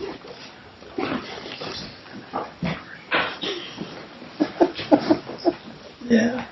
Haha, Ok, Yeah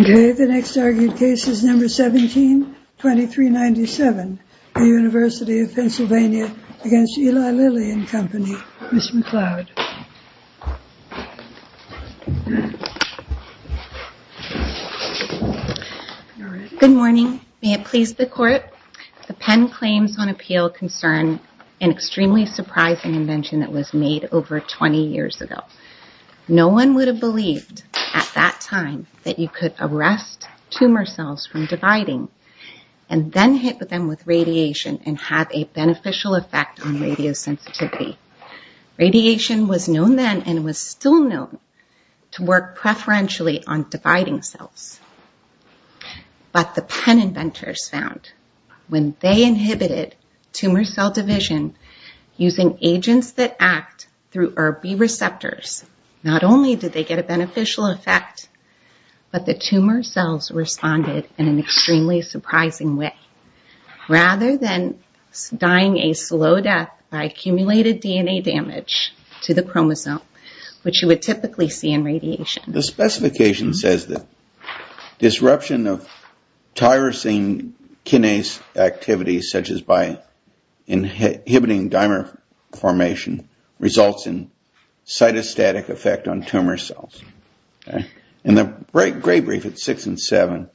Ok, the next argued case is number 17-2397 The University of Pennsylvania against Eli Lilly and Company Ms. McLeod Good morning, may it please the court The Penn Claims on Appeal concern an extremely surprising invention that was made over 20 years ago No one would have believed at that time that you could arrest tumor cells from dividing and then hit them with radiation and have a beneficial effect on radio sensitivity Radiation was known then and was still known to work preferentially on dividing cells But the Penn inventors found that when they inhibited tumor cell division using agents that act through ERB-B receptors not only did they get a beneficial effect but the tumor cells responded in an extremely surprising way rather than dying a slow death by accumulated DNA damage to the chromosome which you would typically see in radiation The specification says that disruption of tyrosine kinase activity such as by inhibiting dimer formation results in cytostatic effect on tumor cells In the great brief at 6 and 7,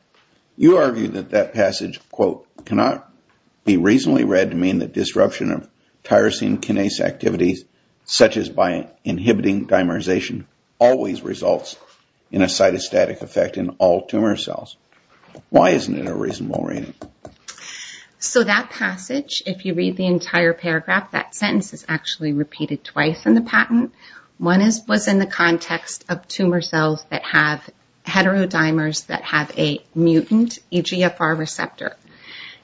you argue that that passage quote, cannot be reasonably read to mean that disruption of tyrosine kinase activity such as by inhibiting dimerization always results in a cytostatic effect in all tumor cells Why isn't it a reasonable reading? So that passage, if you read the entire paragraph that sentence is actually repeated twice in the patent One was in the context of tumor cells that have heterodimers that have a mutant EGFR receptor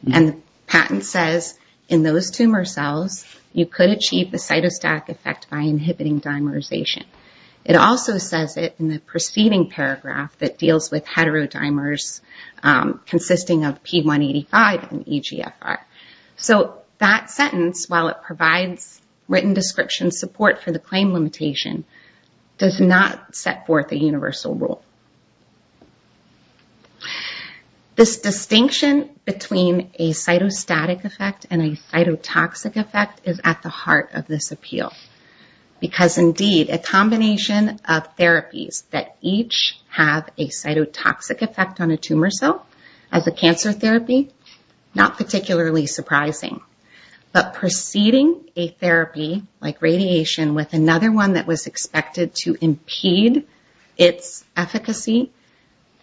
And the patent says in those tumor cells you could achieve the cytostatic effect by inhibiting dimerization It also says it in the preceding paragraph that deals with heterodimers consisting of P185 and EGFR So that sentence, while it provides written description support for the claim limitation does not set forth a universal rule This distinction between a cytostatic effect and a cytotoxic effect is at the heart of this appeal Because indeed, a combination of therapies that each have a cytotoxic effect on a tumor cell as a cancer therapy, not particularly surprising But preceding a therapy like radiation with another one that was expected to impede its efficacy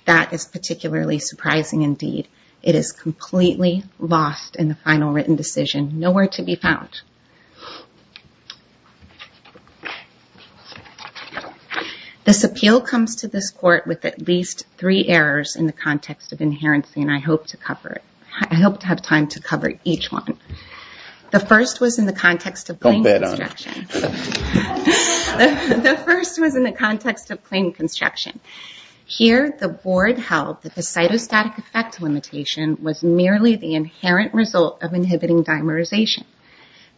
that is particularly surprising indeed It is completely lost in the final written decision, nowhere to be found This appeal comes to this court with at least three errors in the context of inherency I hope to have time to cover each one The first was in the context of claim construction Here the board held that the cytostatic effect limitation was merely the inherent result of inhibiting dimerization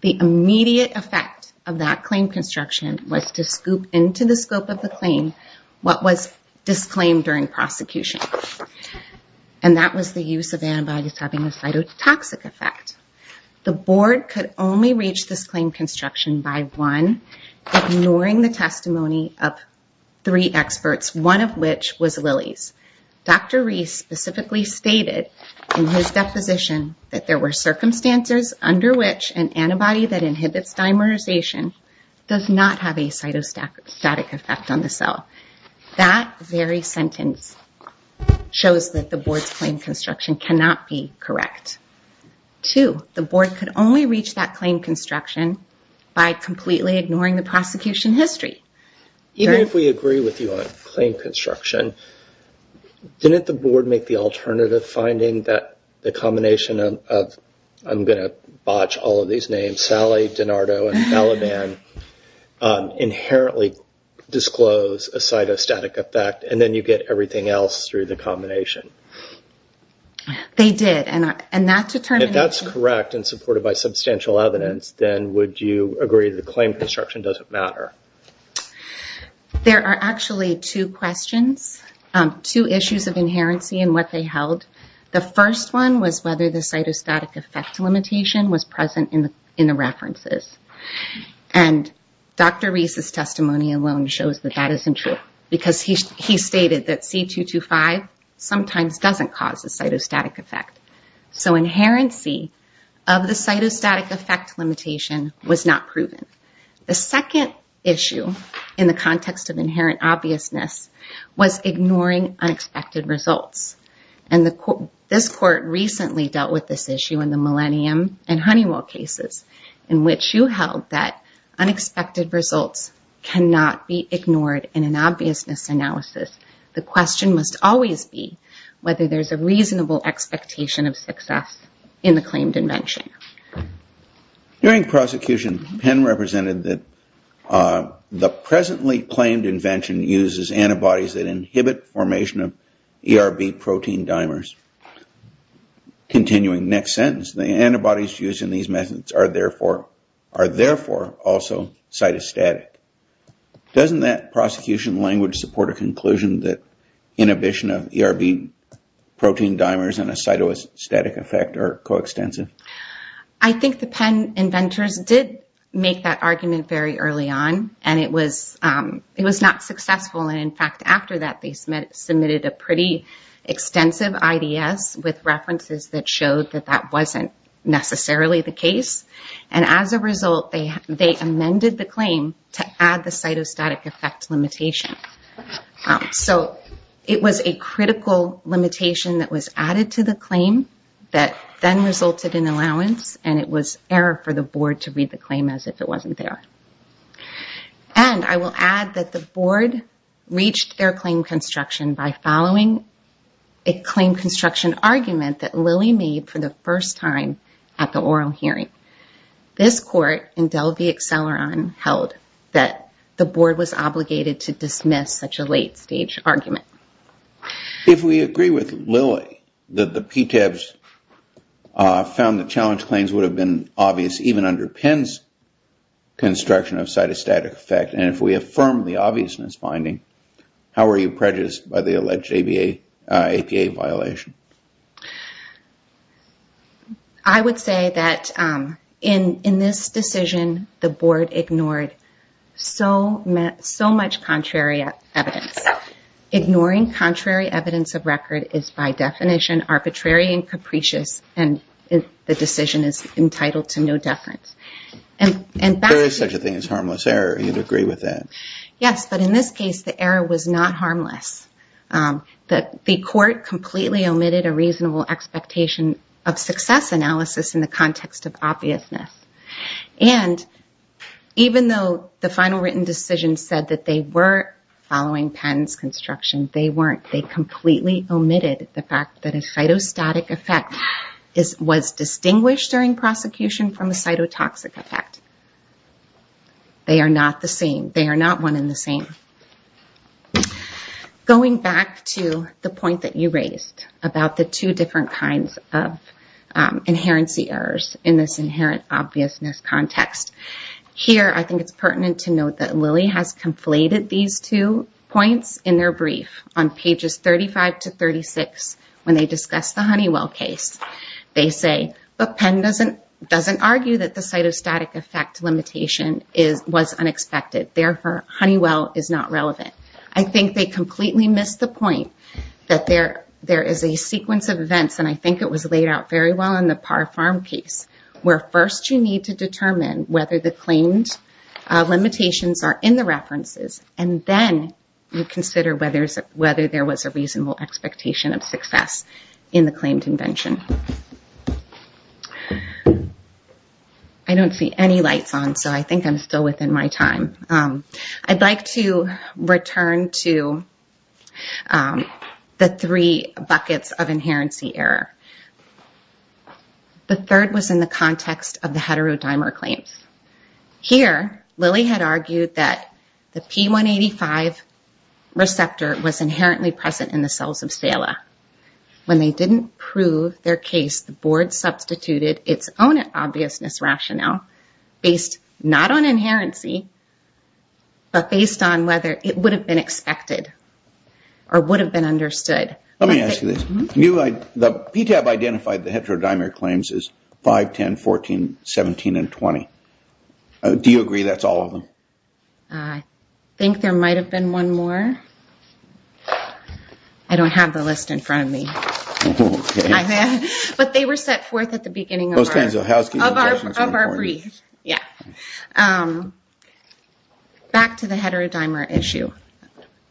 The immediate effect of that claim construction was to scoop into the scope of the claim what was disclaimed during prosecution And that was the use of antibodies having a cytotoxic effect The board could only reach this claim construction by one ignoring the testimony of three experts, one of which was Lilly's Dr. Reese specifically stated in his deposition that there were circumstances under which an antibody that inhibits dimerization does not have a cytostatic effect on the cell That very sentence shows that the board's claim construction cannot be correct Two, the board could only reach that claim construction by completely ignoring the prosecution history Even if we agree with you on claim construction didn't the board make the alternative finding that the combination of I'm going to botch all of these names, Sally, DiNardo, and Balaban Inherently disclose a cytostatic effect and then you get everything else through the combination They did, and that determination If that's correct and supported by substantial evidence then would you agree that the claim construction doesn't matter? There are actually two questions, two issues of inherency in what they held The first one was whether the cytostatic effect limitation was present in the references And Dr. Reese's testimony alone shows that that isn't true because he stated that C.2.2.5 sometimes doesn't cause a cytostatic effect So inherency of the cytostatic effect limitation was not proven The second issue in the context of inherent obviousness was ignoring unexpected results And this court recently dealt with this issue in the Millennium and Honeywell cases in which you held that unexpected results cannot be ignored in an obviousness analysis The question must always be whether there's a reasonable expectation of success in the claimed invention During prosecution Penn represented that the presently claimed invention uses antibodies that inhibit formation of ERB protein dimers Continuing next sentence, the antibodies used in these methods are therefore also cytostatic Doesn't that prosecution language support a conclusion that inhibition of ERB protein dimers and a cytostatic effect are co-extensive? I think the Penn inventors did make that argument very early on and it was not successful And in fact, after that, they submitted a pretty extensive IDS with references that showed that that wasn't necessarily the case And as a result, they amended the claim to add the cytostatic effect limitation So it was a critical limitation that was added to the claim that then resulted in allowance And it was error for the board to read the claim as if it wasn't there And I will add that the board reached their claim construction by following a claim construction argument that Lilly made for the first time at the oral hearing This court in Dell v. Acceleron held that the board was obligated to dismiss such a late stage argument If we agree with Lilly, that the PTABs found the challenge claims would have been obvious even under Penn's construction of cytostatic effect and if we affirm the obviousness finding, how are you prejudiced by the alleged APA violation? I would say that in this decision, the board ignored so much contrary evidence Ignoring contrary evidence of record is by definition arbitrary and capricious and the decision is entitled to no deference There is such a thing as harmless error, and you would agree with that Yes, but in this case, the error was not harmless The court completely omitted a reasonable expectation of success analysis in the context of obviousness And even though the final written decision said that they were following Penn's construction, they weren't They completely omitted the fact that a cytostatic effect was distinguished during prosecution from a cytotoxic effect They are not the same. They are not one and the same Going back to the point that you raised about the two different kinds of inherency errors in this inherent obviousness context Here, I think it's pertinent to note that Lilly has conflated these two points in their brief On pages 35 to 36, when they discuss the Honeywell case They say, but Penn doesn't argue that the cytostatic effect limitation was unexpected Therefore, Honeywell is not relevant I think they completely missed the point that there is a sequence of events And I think it was laid out very well in the Parr Farm case Where first you need to determine whether the claimed limitations are in the references And then you consider whether there was a reasonable expectation of success in the claimed invention I don't see any lights on, so I think I'm still within my time I'd like to return to the three buckets of inherency error The third was in the context of the heterodimer claims Here, Lilly had argued that the P185 receptor was inherently present in the cells of Stela When they didn't prove their case, the board substituted its own obviousness rationale Based not on inherency, but based on whether it would have been expected Or would have been understood Let me ask you this, PTAB identified the heterodimer claims as 5, 10, 14, 17, and 20 Do you agree that's all of them? I think there might have been one more I don't have the list in front of me But they were set forth at the beginning of our brief Back to the heterodimer issue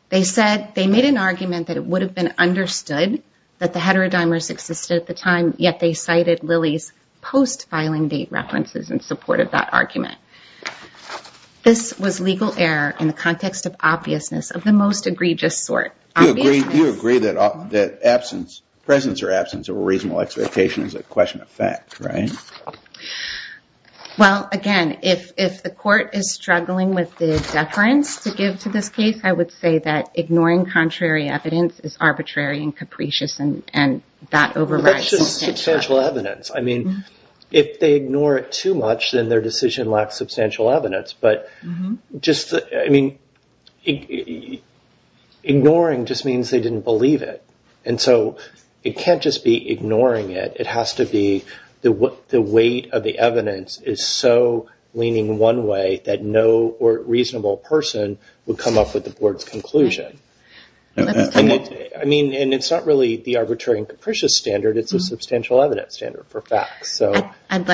They made an argument that it would have been understood that the heterodimers existed at the time Yet they cited Lilly's post-filing date references in support of that argument This was legal error in the context of obviousness of the most egregious sort You agree that presence or absence of a reasonable expectation is a question of fact, right? Well, again, if the court is struggling with the deference to give to this case I would say that ignoring contrary evidence is arbitrary and capricious That's just substantial evidence If they ignore it too much, then their decision lacks substantial evidence Ignoring just means they didn't believe it It can't just be ignoring it It has to be the weight of the evidence is so leaning one way that no reasonable person would come up with the board's conclusion It's not really the arbitrary and capricious standard, it's a substantial evidence standard for facts While you're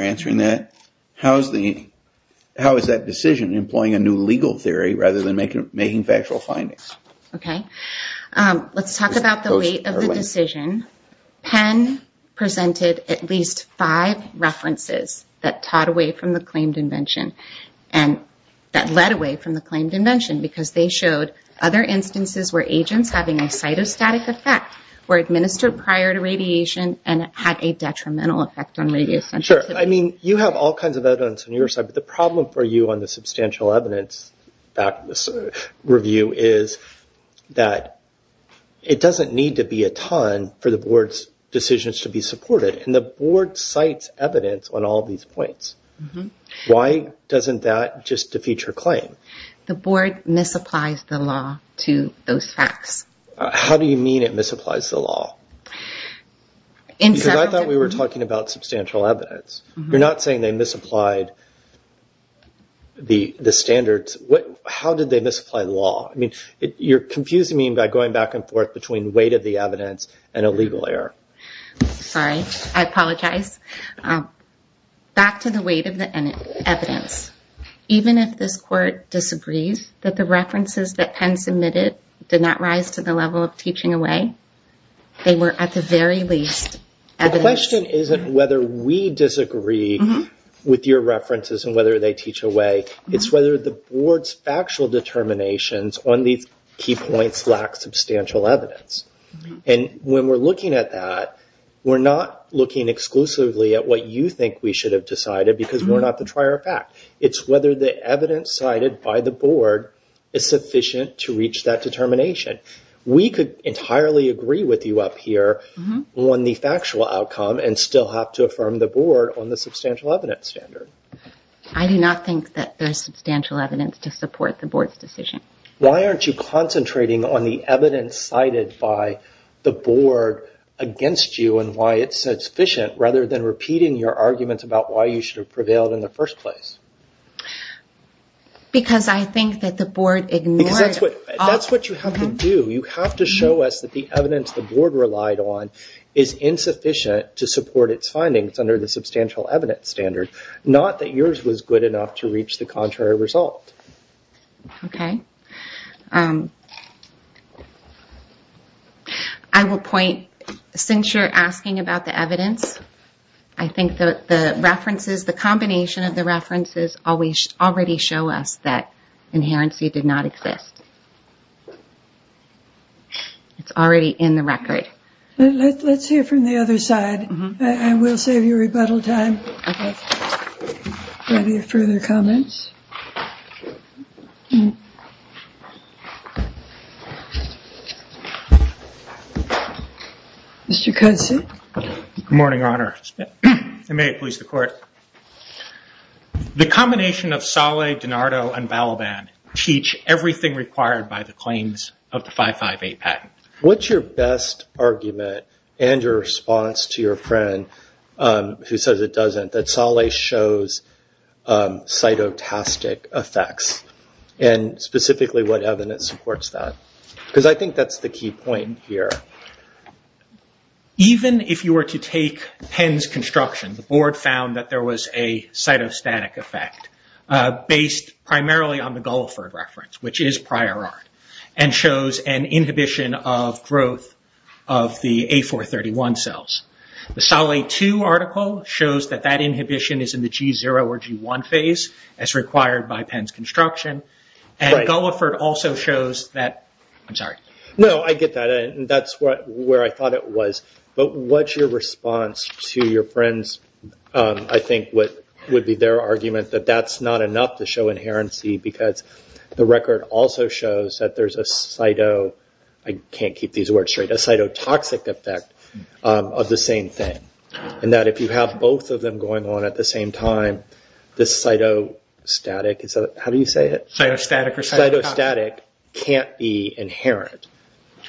answering that, how is that decision employing a new legal theory rather than making factual findings? Let's talk about the weight of the decision Penn presented at least five references that led away from the claimed invention Because they showed other instances where agents having a cytostatic effect were administered prior to radiation and had a detrimental effect on radio sensitivity You have all kinds of evidence on your side, but the problem for you on the substantial evidence review is that it doesn't need to be a ton for the board's decisions to be supported and the board cites evidence on all these points Why doesn't that just defeat your claim? The board misapplies the law to those facts How do you mean it misapplies the law? Because I thought we were talking about substantial evidence You're not saying they misapplied the standards, how did they misapply law? You're confusing me by going back and forth between weight of the evidence and a legal error Sorry, I apologize Back to the weight of the evidence Even if this court disagrees that the references that Penn submitted did not rise to the level of teaching away they were at the very least evidence The question isn't whether we disagree with your references and whether they teach away It's whether the board's factual determinations on these key points lack substantial evidence And when we're looking at that, we're not looking exclusively at what you think we should have decided because we're not the trier of fact It's whether the evidence cited by the board is sufficient to reach that determination We could entirely agree with you up here on the factual outcome and still have to affirm the board on the substantial evidence standard I do not think that there's substantial evidence to support the board's decision Why aren't you concentrating on the evidence cited by the board against you and why it's sufficient rather than repeating your arguments about why you should have prevailed in the first place? Because I think that the board ignored... That's what you have to do. You have to show us that the evidence the board relied on is insufficient to support its findings under the substantial evidence standard It's not that yours was good enough to reach the contrary result I will point, since you're asking about the evidence I think the references, the combination of the references already show us that inherency did not exist It's already in the record Let's hear from the other side. I will save you rebuttal time for any further comments Good morning, Your Honor The combination of Saleh, DiNardo, and Balaban teach everything required by the claims of the 558 patent What's your best argument and your response to your friend who says it doesn't, that Saleh shows cytotastic effects and specifically what evidence supports that Because I think that's the key point here Even if you were to take Penn's construction, the board found that there was a cytostatic effect based primarily on the Gulliford reference, which is prior art and shows an inhibition of growth of the A431 cells The Saleh 2 article shows that that inhibition is in the G0 or G1 phase as required by Penn's construction No, I get that. That's where I thought it was But what's your response to your friend's I think what would be their argument that that's not enough to show inherency because the record also shows that there's a cytotoxic effect of the same thing and that if you have both of them going on at the same time, the cytostatic can't be inherent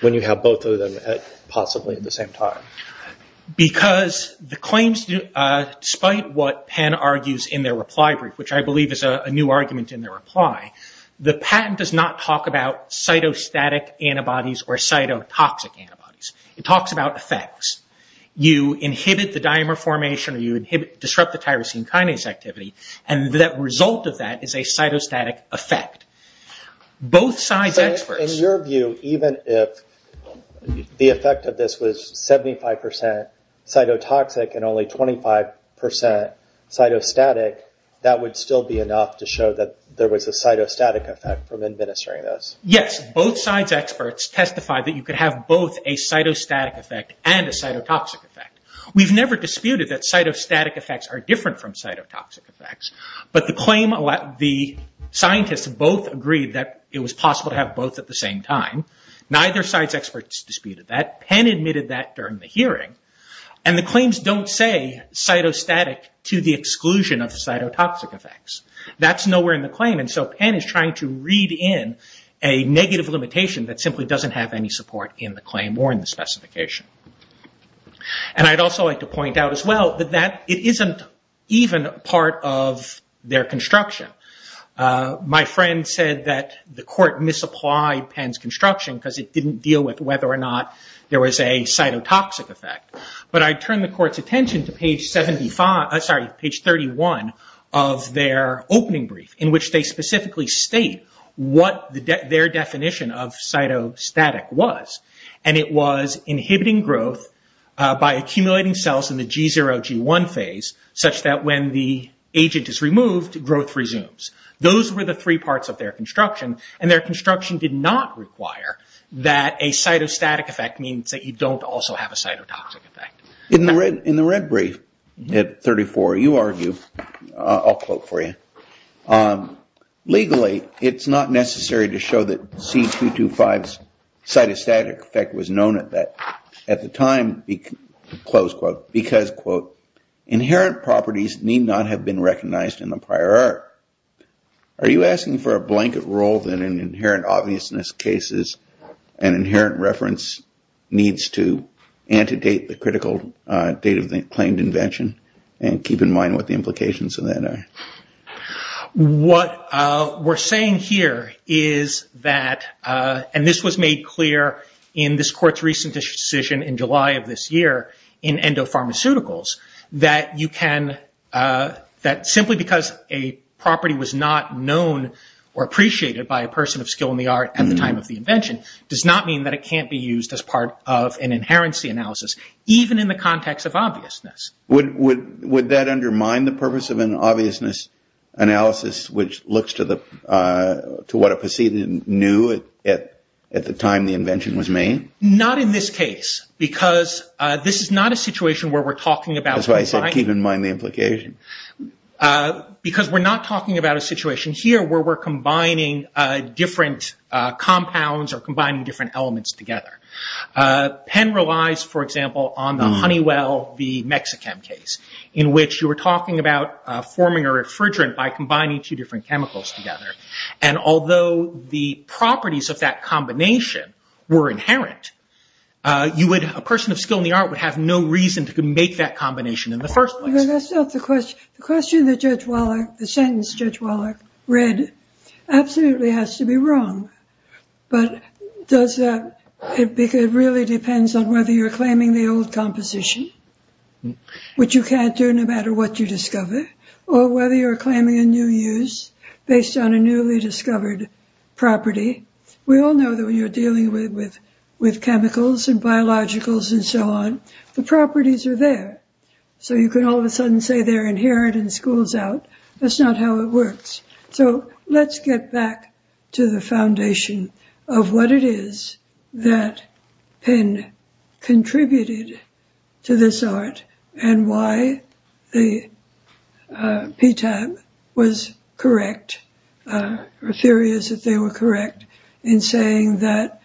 when you have both of them possibly at the same time Despite what Penn argues in their reply brief, which I believe is a new argument in their reply the patent does not talk about cytostatic antibodies or cytotoxic antibodies It talks about effects. You inhibit the dimer formation or you disrupt the tyrosine kinase activity and the result of that is a cytostatic effect In your view, even if the effect of this was 75% cytotoxic and only 25% cytostatic that would still be enough to show that there was a cytostatic effect from administering this Yes, both sides' experts testified that you could have both a cytostatic effect and a cytotoxic effect We've never disputed that cytostatic effects are different from cytotoxic effects but the claim, the scientists both agreed that it was possible to have both at the same time Neither side's experts disputed that. Penn admitted that during the hearing and the claims don't say cytostatic to the exclusion of cytotoxic effects That's nowhere in the claim and so Penn is trying to read in a negative limitation that simply doesn't have any support in the claim or in the specification I'd also like to point out as well that it isn't even part of their construction My friend said that the court misapplied Penn's construction because it didn't deal with whether or not there was a cytotoxic effect But I turn the court's attention to page 31 of their opening brief in which they specifically state what their definition of cytostatic was and it was inhibiting growth by accumulating cells in the G0-G1 phase such that when the agent is removed, growth resumes Those were the three parts of their construction and their construction did not require that a cytostatic effect means that you don't also have a cytotoxic effect In the red brief at 34, you argue, I'll quote for you Legally, it's not necessary to show that C225's cytostatic effect was known at the time because, quote, inherent properties need not have been recognized in the prior art Are you asking for a blanket rule that in inherent obviousness cases an inherent reference needs to antedate the critical date of the claimed invention and keep in mind what the implications of that are? What we're saying here is that, and this was made clear in this court's recent decision in July of this year in endopharmaceuticals, that you can that simply because a property was not known or appreciated by a person of skill in the art at the time of the invention does not mean that it can't be used as part of an inherency analysis even in the context of obviousness Would that undermine the purpose of an obviousness analysis which looks to what a person knew at the time the invention was made? Not in this case, because this is not a situation where we're talking about That's why I said keep in mind the implication Because we're not talking about a situation here where we're combining different compounds or combining different elements together Penn relies, for example, on the Honeywell v. Mexichem case in which you were talking about forming a refrigerant by combining two different chemicals together And although the properties of that combination were inherent a person of skill in the art would have no reason to make that combination in the first place The question that Judge Wallach, the sentence Judge Wallach read absolutely has to be wrong But it really depends on whether you're claiming the old composition which you can't do no matter what you discover or whether you're claiming a new use based on a newly discovered property We all know that when you're dealing with chemicals and biologicals and so on the properties are there So you can all of a sudden say they're inherent and school's out That's not how it works So let's get back to the foundation of what it is that Penn contributed to this art and why the PTAB was correct or theories that they were correct in saying that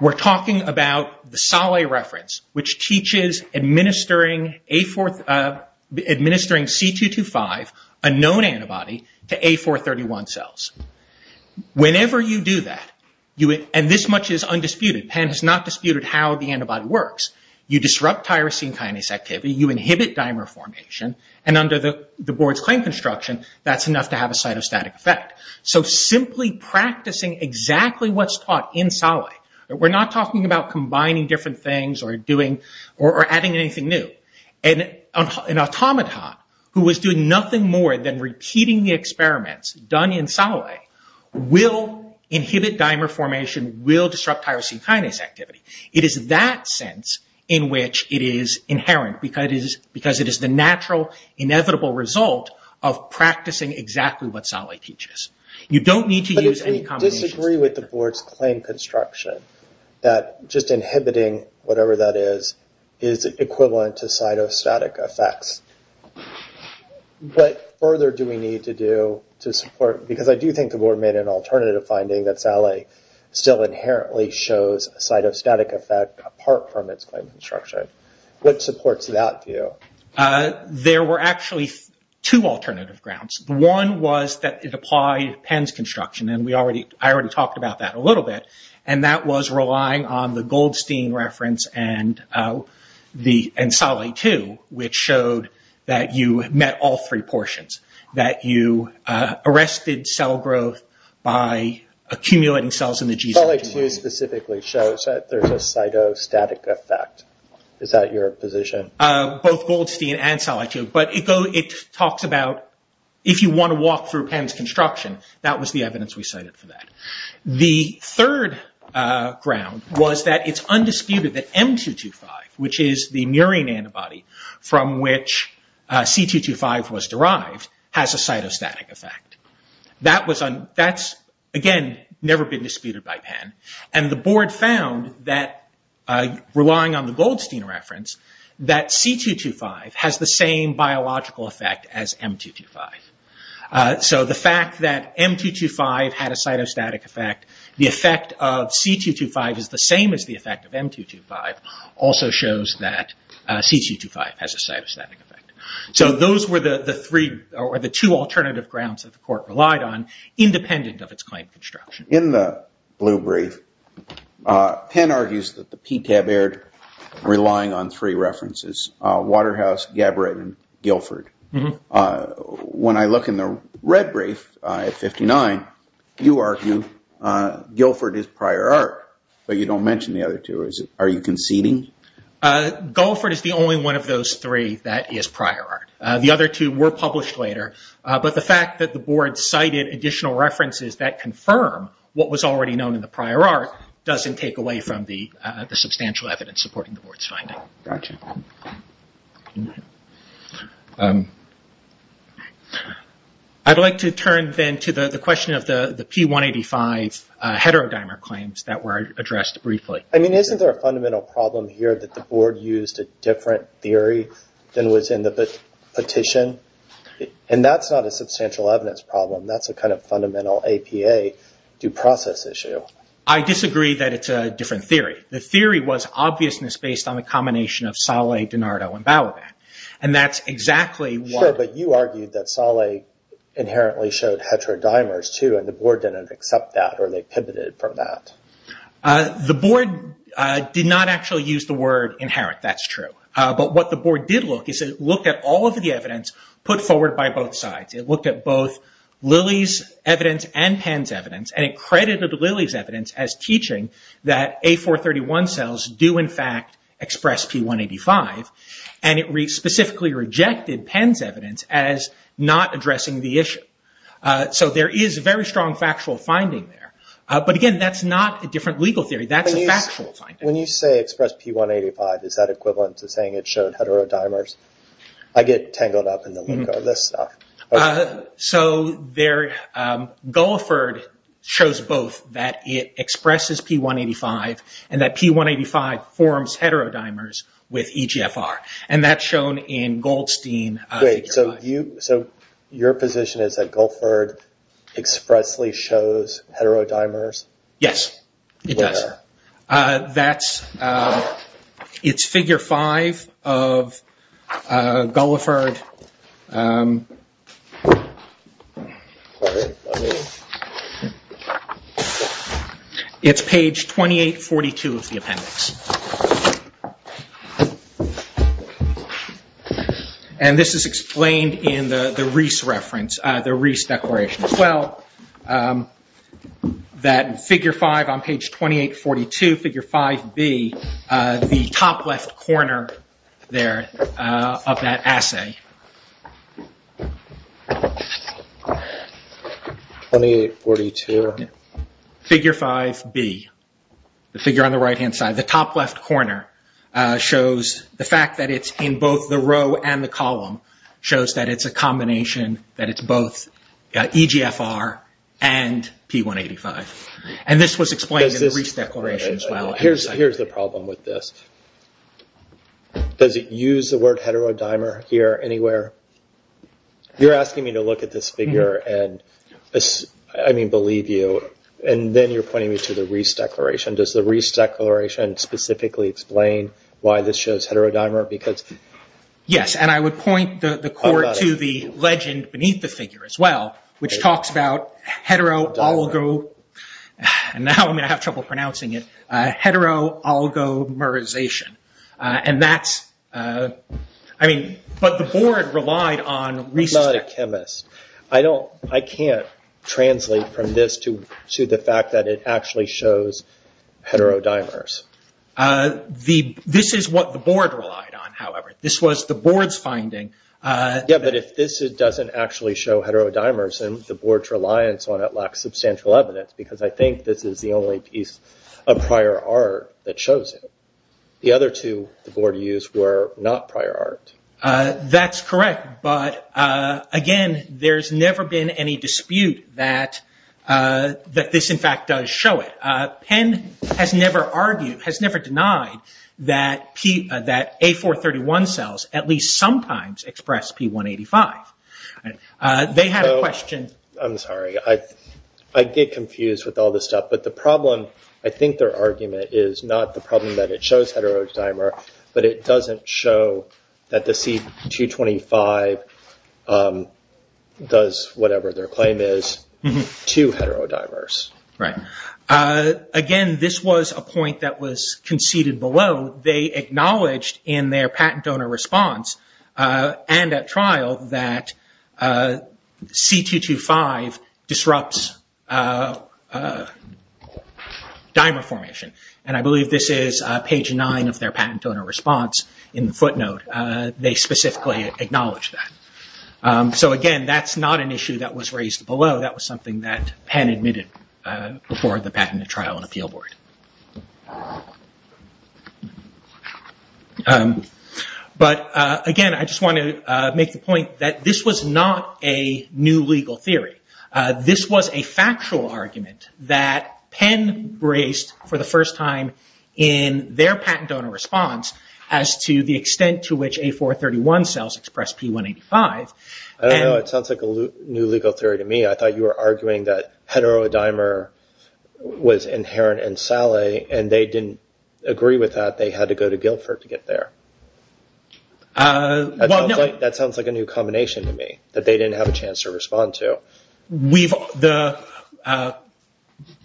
we're talking about the Saleh reference which teaches administering C225, a known antibody, to A431 cells Whenever you do that, and this much is undisputed Penn has not disputed how the antibody works you disrupt tyrosine kinase activity, you inhibit dimer formation and under the board's claim construction, that's enough to have a cytostatic effect So simply practicing exactly what's taught in Saleh We're not talking about combining different things or adding anything new An automaton who is doing nothing more than repeating the experiments done in Saleh will inhibit dimer formation, will disrupt tyrosine kinase activity It is that sense in which it is inherent because it is the natural, inevitable result of practicing exactly what Saleh teaches You don't need to use any combinations But we disagree with the board's claim construction, that just inhibiting whatever that is is equivalent to cytostatic effects What further do we need to do to support because I do think the board made an alternative finding that Saleh still inherently shows a cytostatic effect apart from its claim construction. What supports that view? There were actually two alternative grounds. One was that it applied Penn's construction and I already talked about that a little bit, and that was relying on the Goldstein reference and Saleh 2, which showed that you met all three portions that you arrested cell growth by accumulating cells in the G-section Saleh 2 specifically shows that there is a cytostatic effect Is that your position? Both Goldstein and Saleh 2, but it talks about if you want to walk through Penn's construction that was the evidence we cited for that. The third ground was that it's undisputed that M225, which is the murine antibody from which C225 was derived, has a cytostatic effect That's, again, never been disputed by Penn and the board found that, relying on the Goldstein reference, that C225 has the same biological effect as M225. The fact that M225 had a cytostatic effect, the effect of C225 is the same as the effect of M225, also shows that C225 has a cytostatic effect. Those were the two alternative grounds that the court relied on independent of its claim construction. In the blue brief, Penn argues that the PTAB aired relying on three references, Waterhouse, Gabbritt, and Guilford. When I look in the red brief, at 59, you argue Guilford is prior art, but you don't mention the other two. Are you conceding? Guilford is the only one of those three that is prior art. The other two were published later but the fact that the board cited additional references that confirm what was already known in the prior art doesn't take away from the substantial evidence supporting the board's finding. I'd like to turn then to the question of the P185 heterodimer claims that were addressed briefly. Isn't there a fundamental problem here that the board used a different theory than was in the petition? That's not a substantial evidence problem. That's a fundamental APA due process issue. I disagree that it's a different theory. The theory was obviousness based on the combination of Salé, DiNardo, and Bauerback. That's exactly what... The board did not actually use the word inherit. That's true. What the board did look is it looked at all of the evidence put forward by both sides. It looked at both Lilly's evidence and Penn's evidence and it credited Lilly's evidence as teaching that A431 cells do in fact express P185. It specifically rejected Penn's evidence as not addressing the issue. There is a very strong factual finding there. Again, that's not a different legal theory. That's a factual finding. When you say express P185, is that equivalent to saying it showed heterodimers? I get tangled up in the list stuff. Gulliford shows both that it expresses P185 and that P185 forms heterodimers with EGFR. That's shown in Goldstein. Your position is that Gulliford expressly shows heterodimers? Yes, it does. It's Figure 5 of Gulliford. It's page 2842 of the appendix. This is explained in the Reese reference, the Reese Declaration as well. Figure 5 on page 2842, Figure 5B, the top left corner of that assay. Figure 5B, the figure on the right hand side. The top left corner shows the fact that it's in both the row and the column. It shows that it's a combination, that it's both EGFR and P185. This was explained in the Reese Declaration as well. Here's the problem with this. Does it use the word heterodimer here anywhere? You're asking me to look at this figure and believe you. Then you're pointing me to the Reese Declaration. Does the Reese Declaration specifically explain why this shows heterodimer? Yes, and I would point the court to the legend beneath the figure as well, which talks about hetero-algo-merization. But the board relied on Reese Declaration. I can't translate from this to the fact that it actually shows heterodimers. This is what the board relied on, however. If this doesn't actually show heterodimers and the board's reliance on it lacks substantial evidence because I think this is the only piece of prior art that shows it. The other two the board used were not prior art. Again, there's never been any dispute that this in fact does show it. Penn has never denied that A431 cells at least sometimes express P185. I'm sorry, I get confused with all this stuff. I think their argument is not the problem that it shows heterodimer, but it doesn't show that the C225 does whatever their claim is to heterodimers. Again, this was a point that was conceded below. They acknowledged in their patent donor response and at trial that C225 disrupts dimer formation. I believe this is page nine of their patent donor response in the footnote. They specifically acknowledged that. Again, that's not an issue that was raised below. That was something that Penn admitted before the patent trial and appeal board. Again, I just want to make the point that this was not a new legal theory. This was a factual argument that Penn raised for the first time in their patent donor response as to the extent to which A431 cells express P185. I don't know. It sounds like a new legal theory to me. I thought you were arguing that heterodimer was inherent in Sally and they didn't agree with that. They had to go to Guilford to get there. That sounds like a new combination to me that they didn't have a chance to respond to.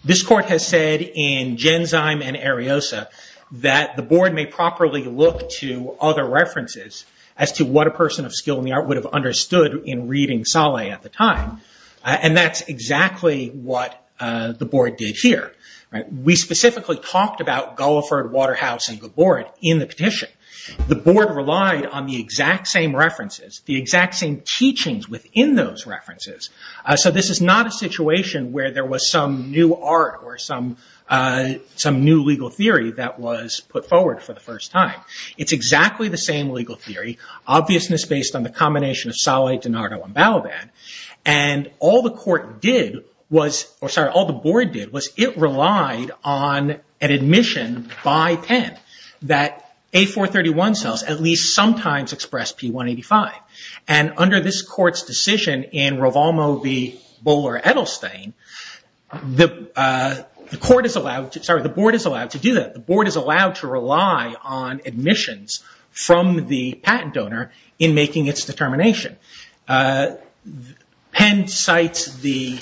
This court has said in Genzyme and Ariosa that the board may properly look to other references as to what a person of skill in the art would have understood in reading Sally at the time. That's exactly what the board did here. We specifically talked about Guilford, Waterhouse and Gaborit in the petition. The board relied on the exact same references, the exact same teachings within those references. This is not a situation where there was some new art or some new legal theory that was put forward for the first time. It's exactly the same legal theory, obviousness based on the combination of Sally, DiNardo and Balaban. All the board did was it relied on an admission by Penn that A431 cells at least sometimes express P185. Under this court's decision in Ravalmo v. Bowler-Edelstein, the board is allowed to do that. The board is allowed to rely on admissions from the patent donor in making its determination. Penn cites the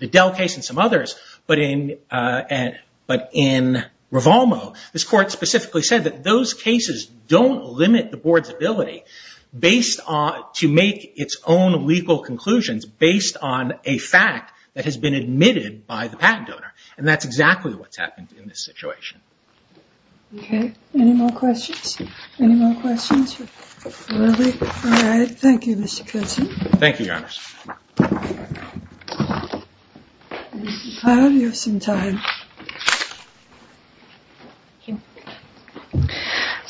Edel case and some others, but in Ravalmo, this court specifically said that those cases don't limit the board's ability to make its own legal conclusions based on a fact that has been admitted by the patent donor. That's exactly what's happened in this situation. Thank you, Your Honors.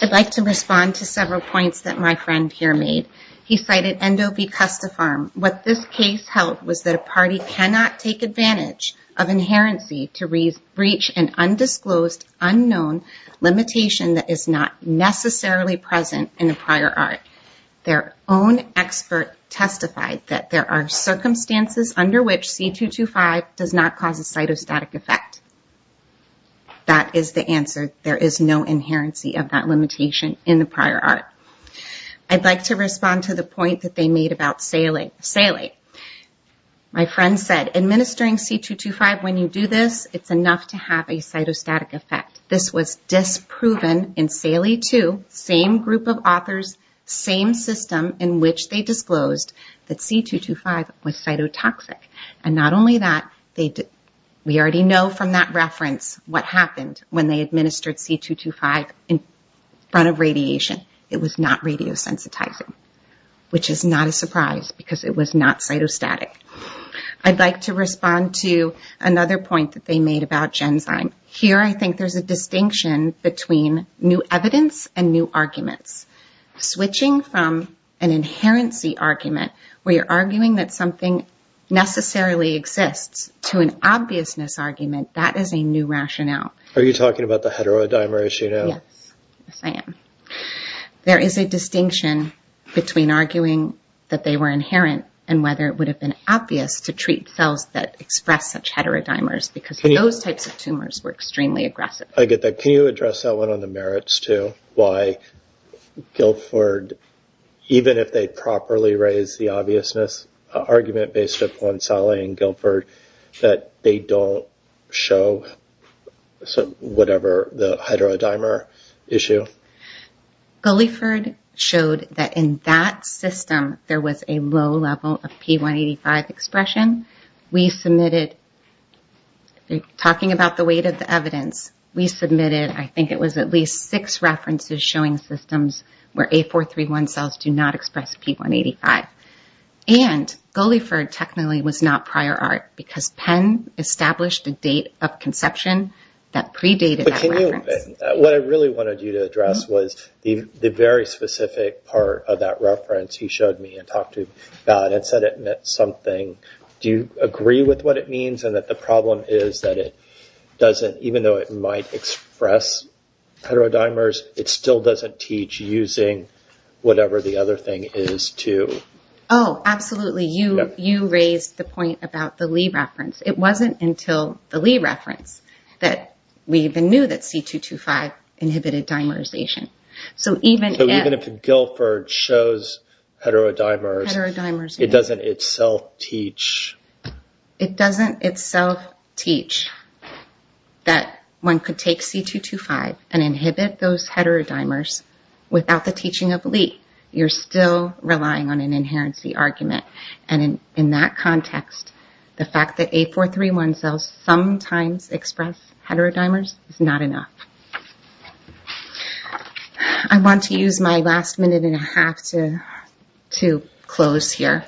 I'd like to respond to several points that my friend here made. He cited Endo B. Custafarm. What this case held was that a party cannot take advantage of inherency to reach an undisclosed, unknown limitation that is not necessarily present in the prior art. Their own expert testified that there are circumstances under which C225 does not cause a cytostatic effect. That is the answer. There is no inherency of that limitation in the prior art. I'd like to respond to the point that they made about Salie. My friend said administering C225 when you do this, it's enough to have a cytostatic effect. This was disproven in Salie 2, same group of authors, same system in which they disclosed that C225 was cytotoxic. And not only that, we already know from that reference what happened when they administered C225 in front of radiation. It was not radiosensitizing, which is not a surprise because it was not cytostatic. I'd like to respond to another point that they made about Genzyme. There is a distinction between new evidence and new arguments. Switching from an inherency argument where you're arguing that something necessarily exists to an obviousness argument, that is a new rationale. Are you talking about the heterodimer issue now? Yes, I am. There is a distinction between arguing that they were inherent and whether it would have been obvious to treat cells that express such heterodimers because those types of tumors were extremely aggressive. Can you address that one on the merits too? Why Guilford, even if they properly raised the obviousness argument based upon Salie and Guilford, that they don't show whatever the heterodimer issue? Gulliford showed that in that system there was a low level of P185 expression. We submitted, talking about the weight of the evidence, we submitted I think it was at least six references showing systems where A431 cells do not express P185. And Gulliford technically was not prior art because Penn established a date of conception that predated that reference. What I really wanted you to address was the very specific part of that reference he showed me and talked to God and said it meant something. Do you agree with what it means and that the problem is that it doesn't, even though it might express heterodimers, it still doesn't teach using whatever the other thing is too? Oh, absolutely. You raised the point about the Lee reference. It wasn't until the Lee reference that we even knew that C225 inhibited dimerization. Even if Guilford shows heterodimers, it doesn't itself teach? It doesn't itself teach that one could take C225 and inhibit those heterodimers without the teaching of Lee. You're still relying on an inherency argument. In that context, the fact that A431 cells sometimes express heterodimers is not enough. I want to use my last minute and a half to close here.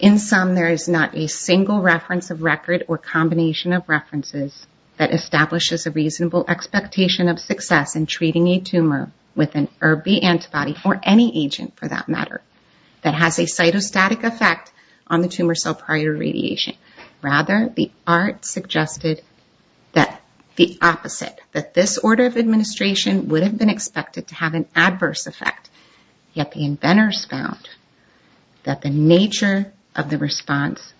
In sum, there is not a single reference of record or combination of references that establishes a reasonable expectation of success in treating a tumor with an ERB-B antibody or any agent for that matter that has a cytostatic effect on the tumor cell prior radiation. Rather, the art suggested that the opposite, that this order of administration would have been expressed and expected to have an adverse effect. Yet the inventors found that the nature of the response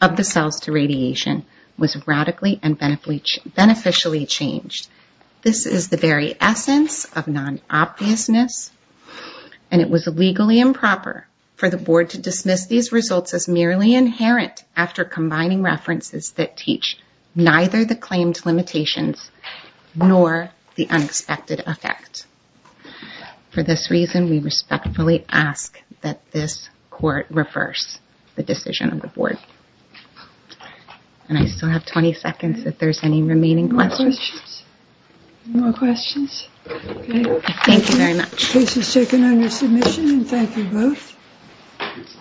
of the cells to radiation was radically and beneficially changed. This is the very essence of non-obviousness, and it was legally improper for the board to dismiss these results as merely inherent after combining references that teach neither the claimed limitations nor the unexpected effects. For this reason, we respectfully ask that this court reverse the decision of the board. I still have 20 seconds if there are any remaining questions.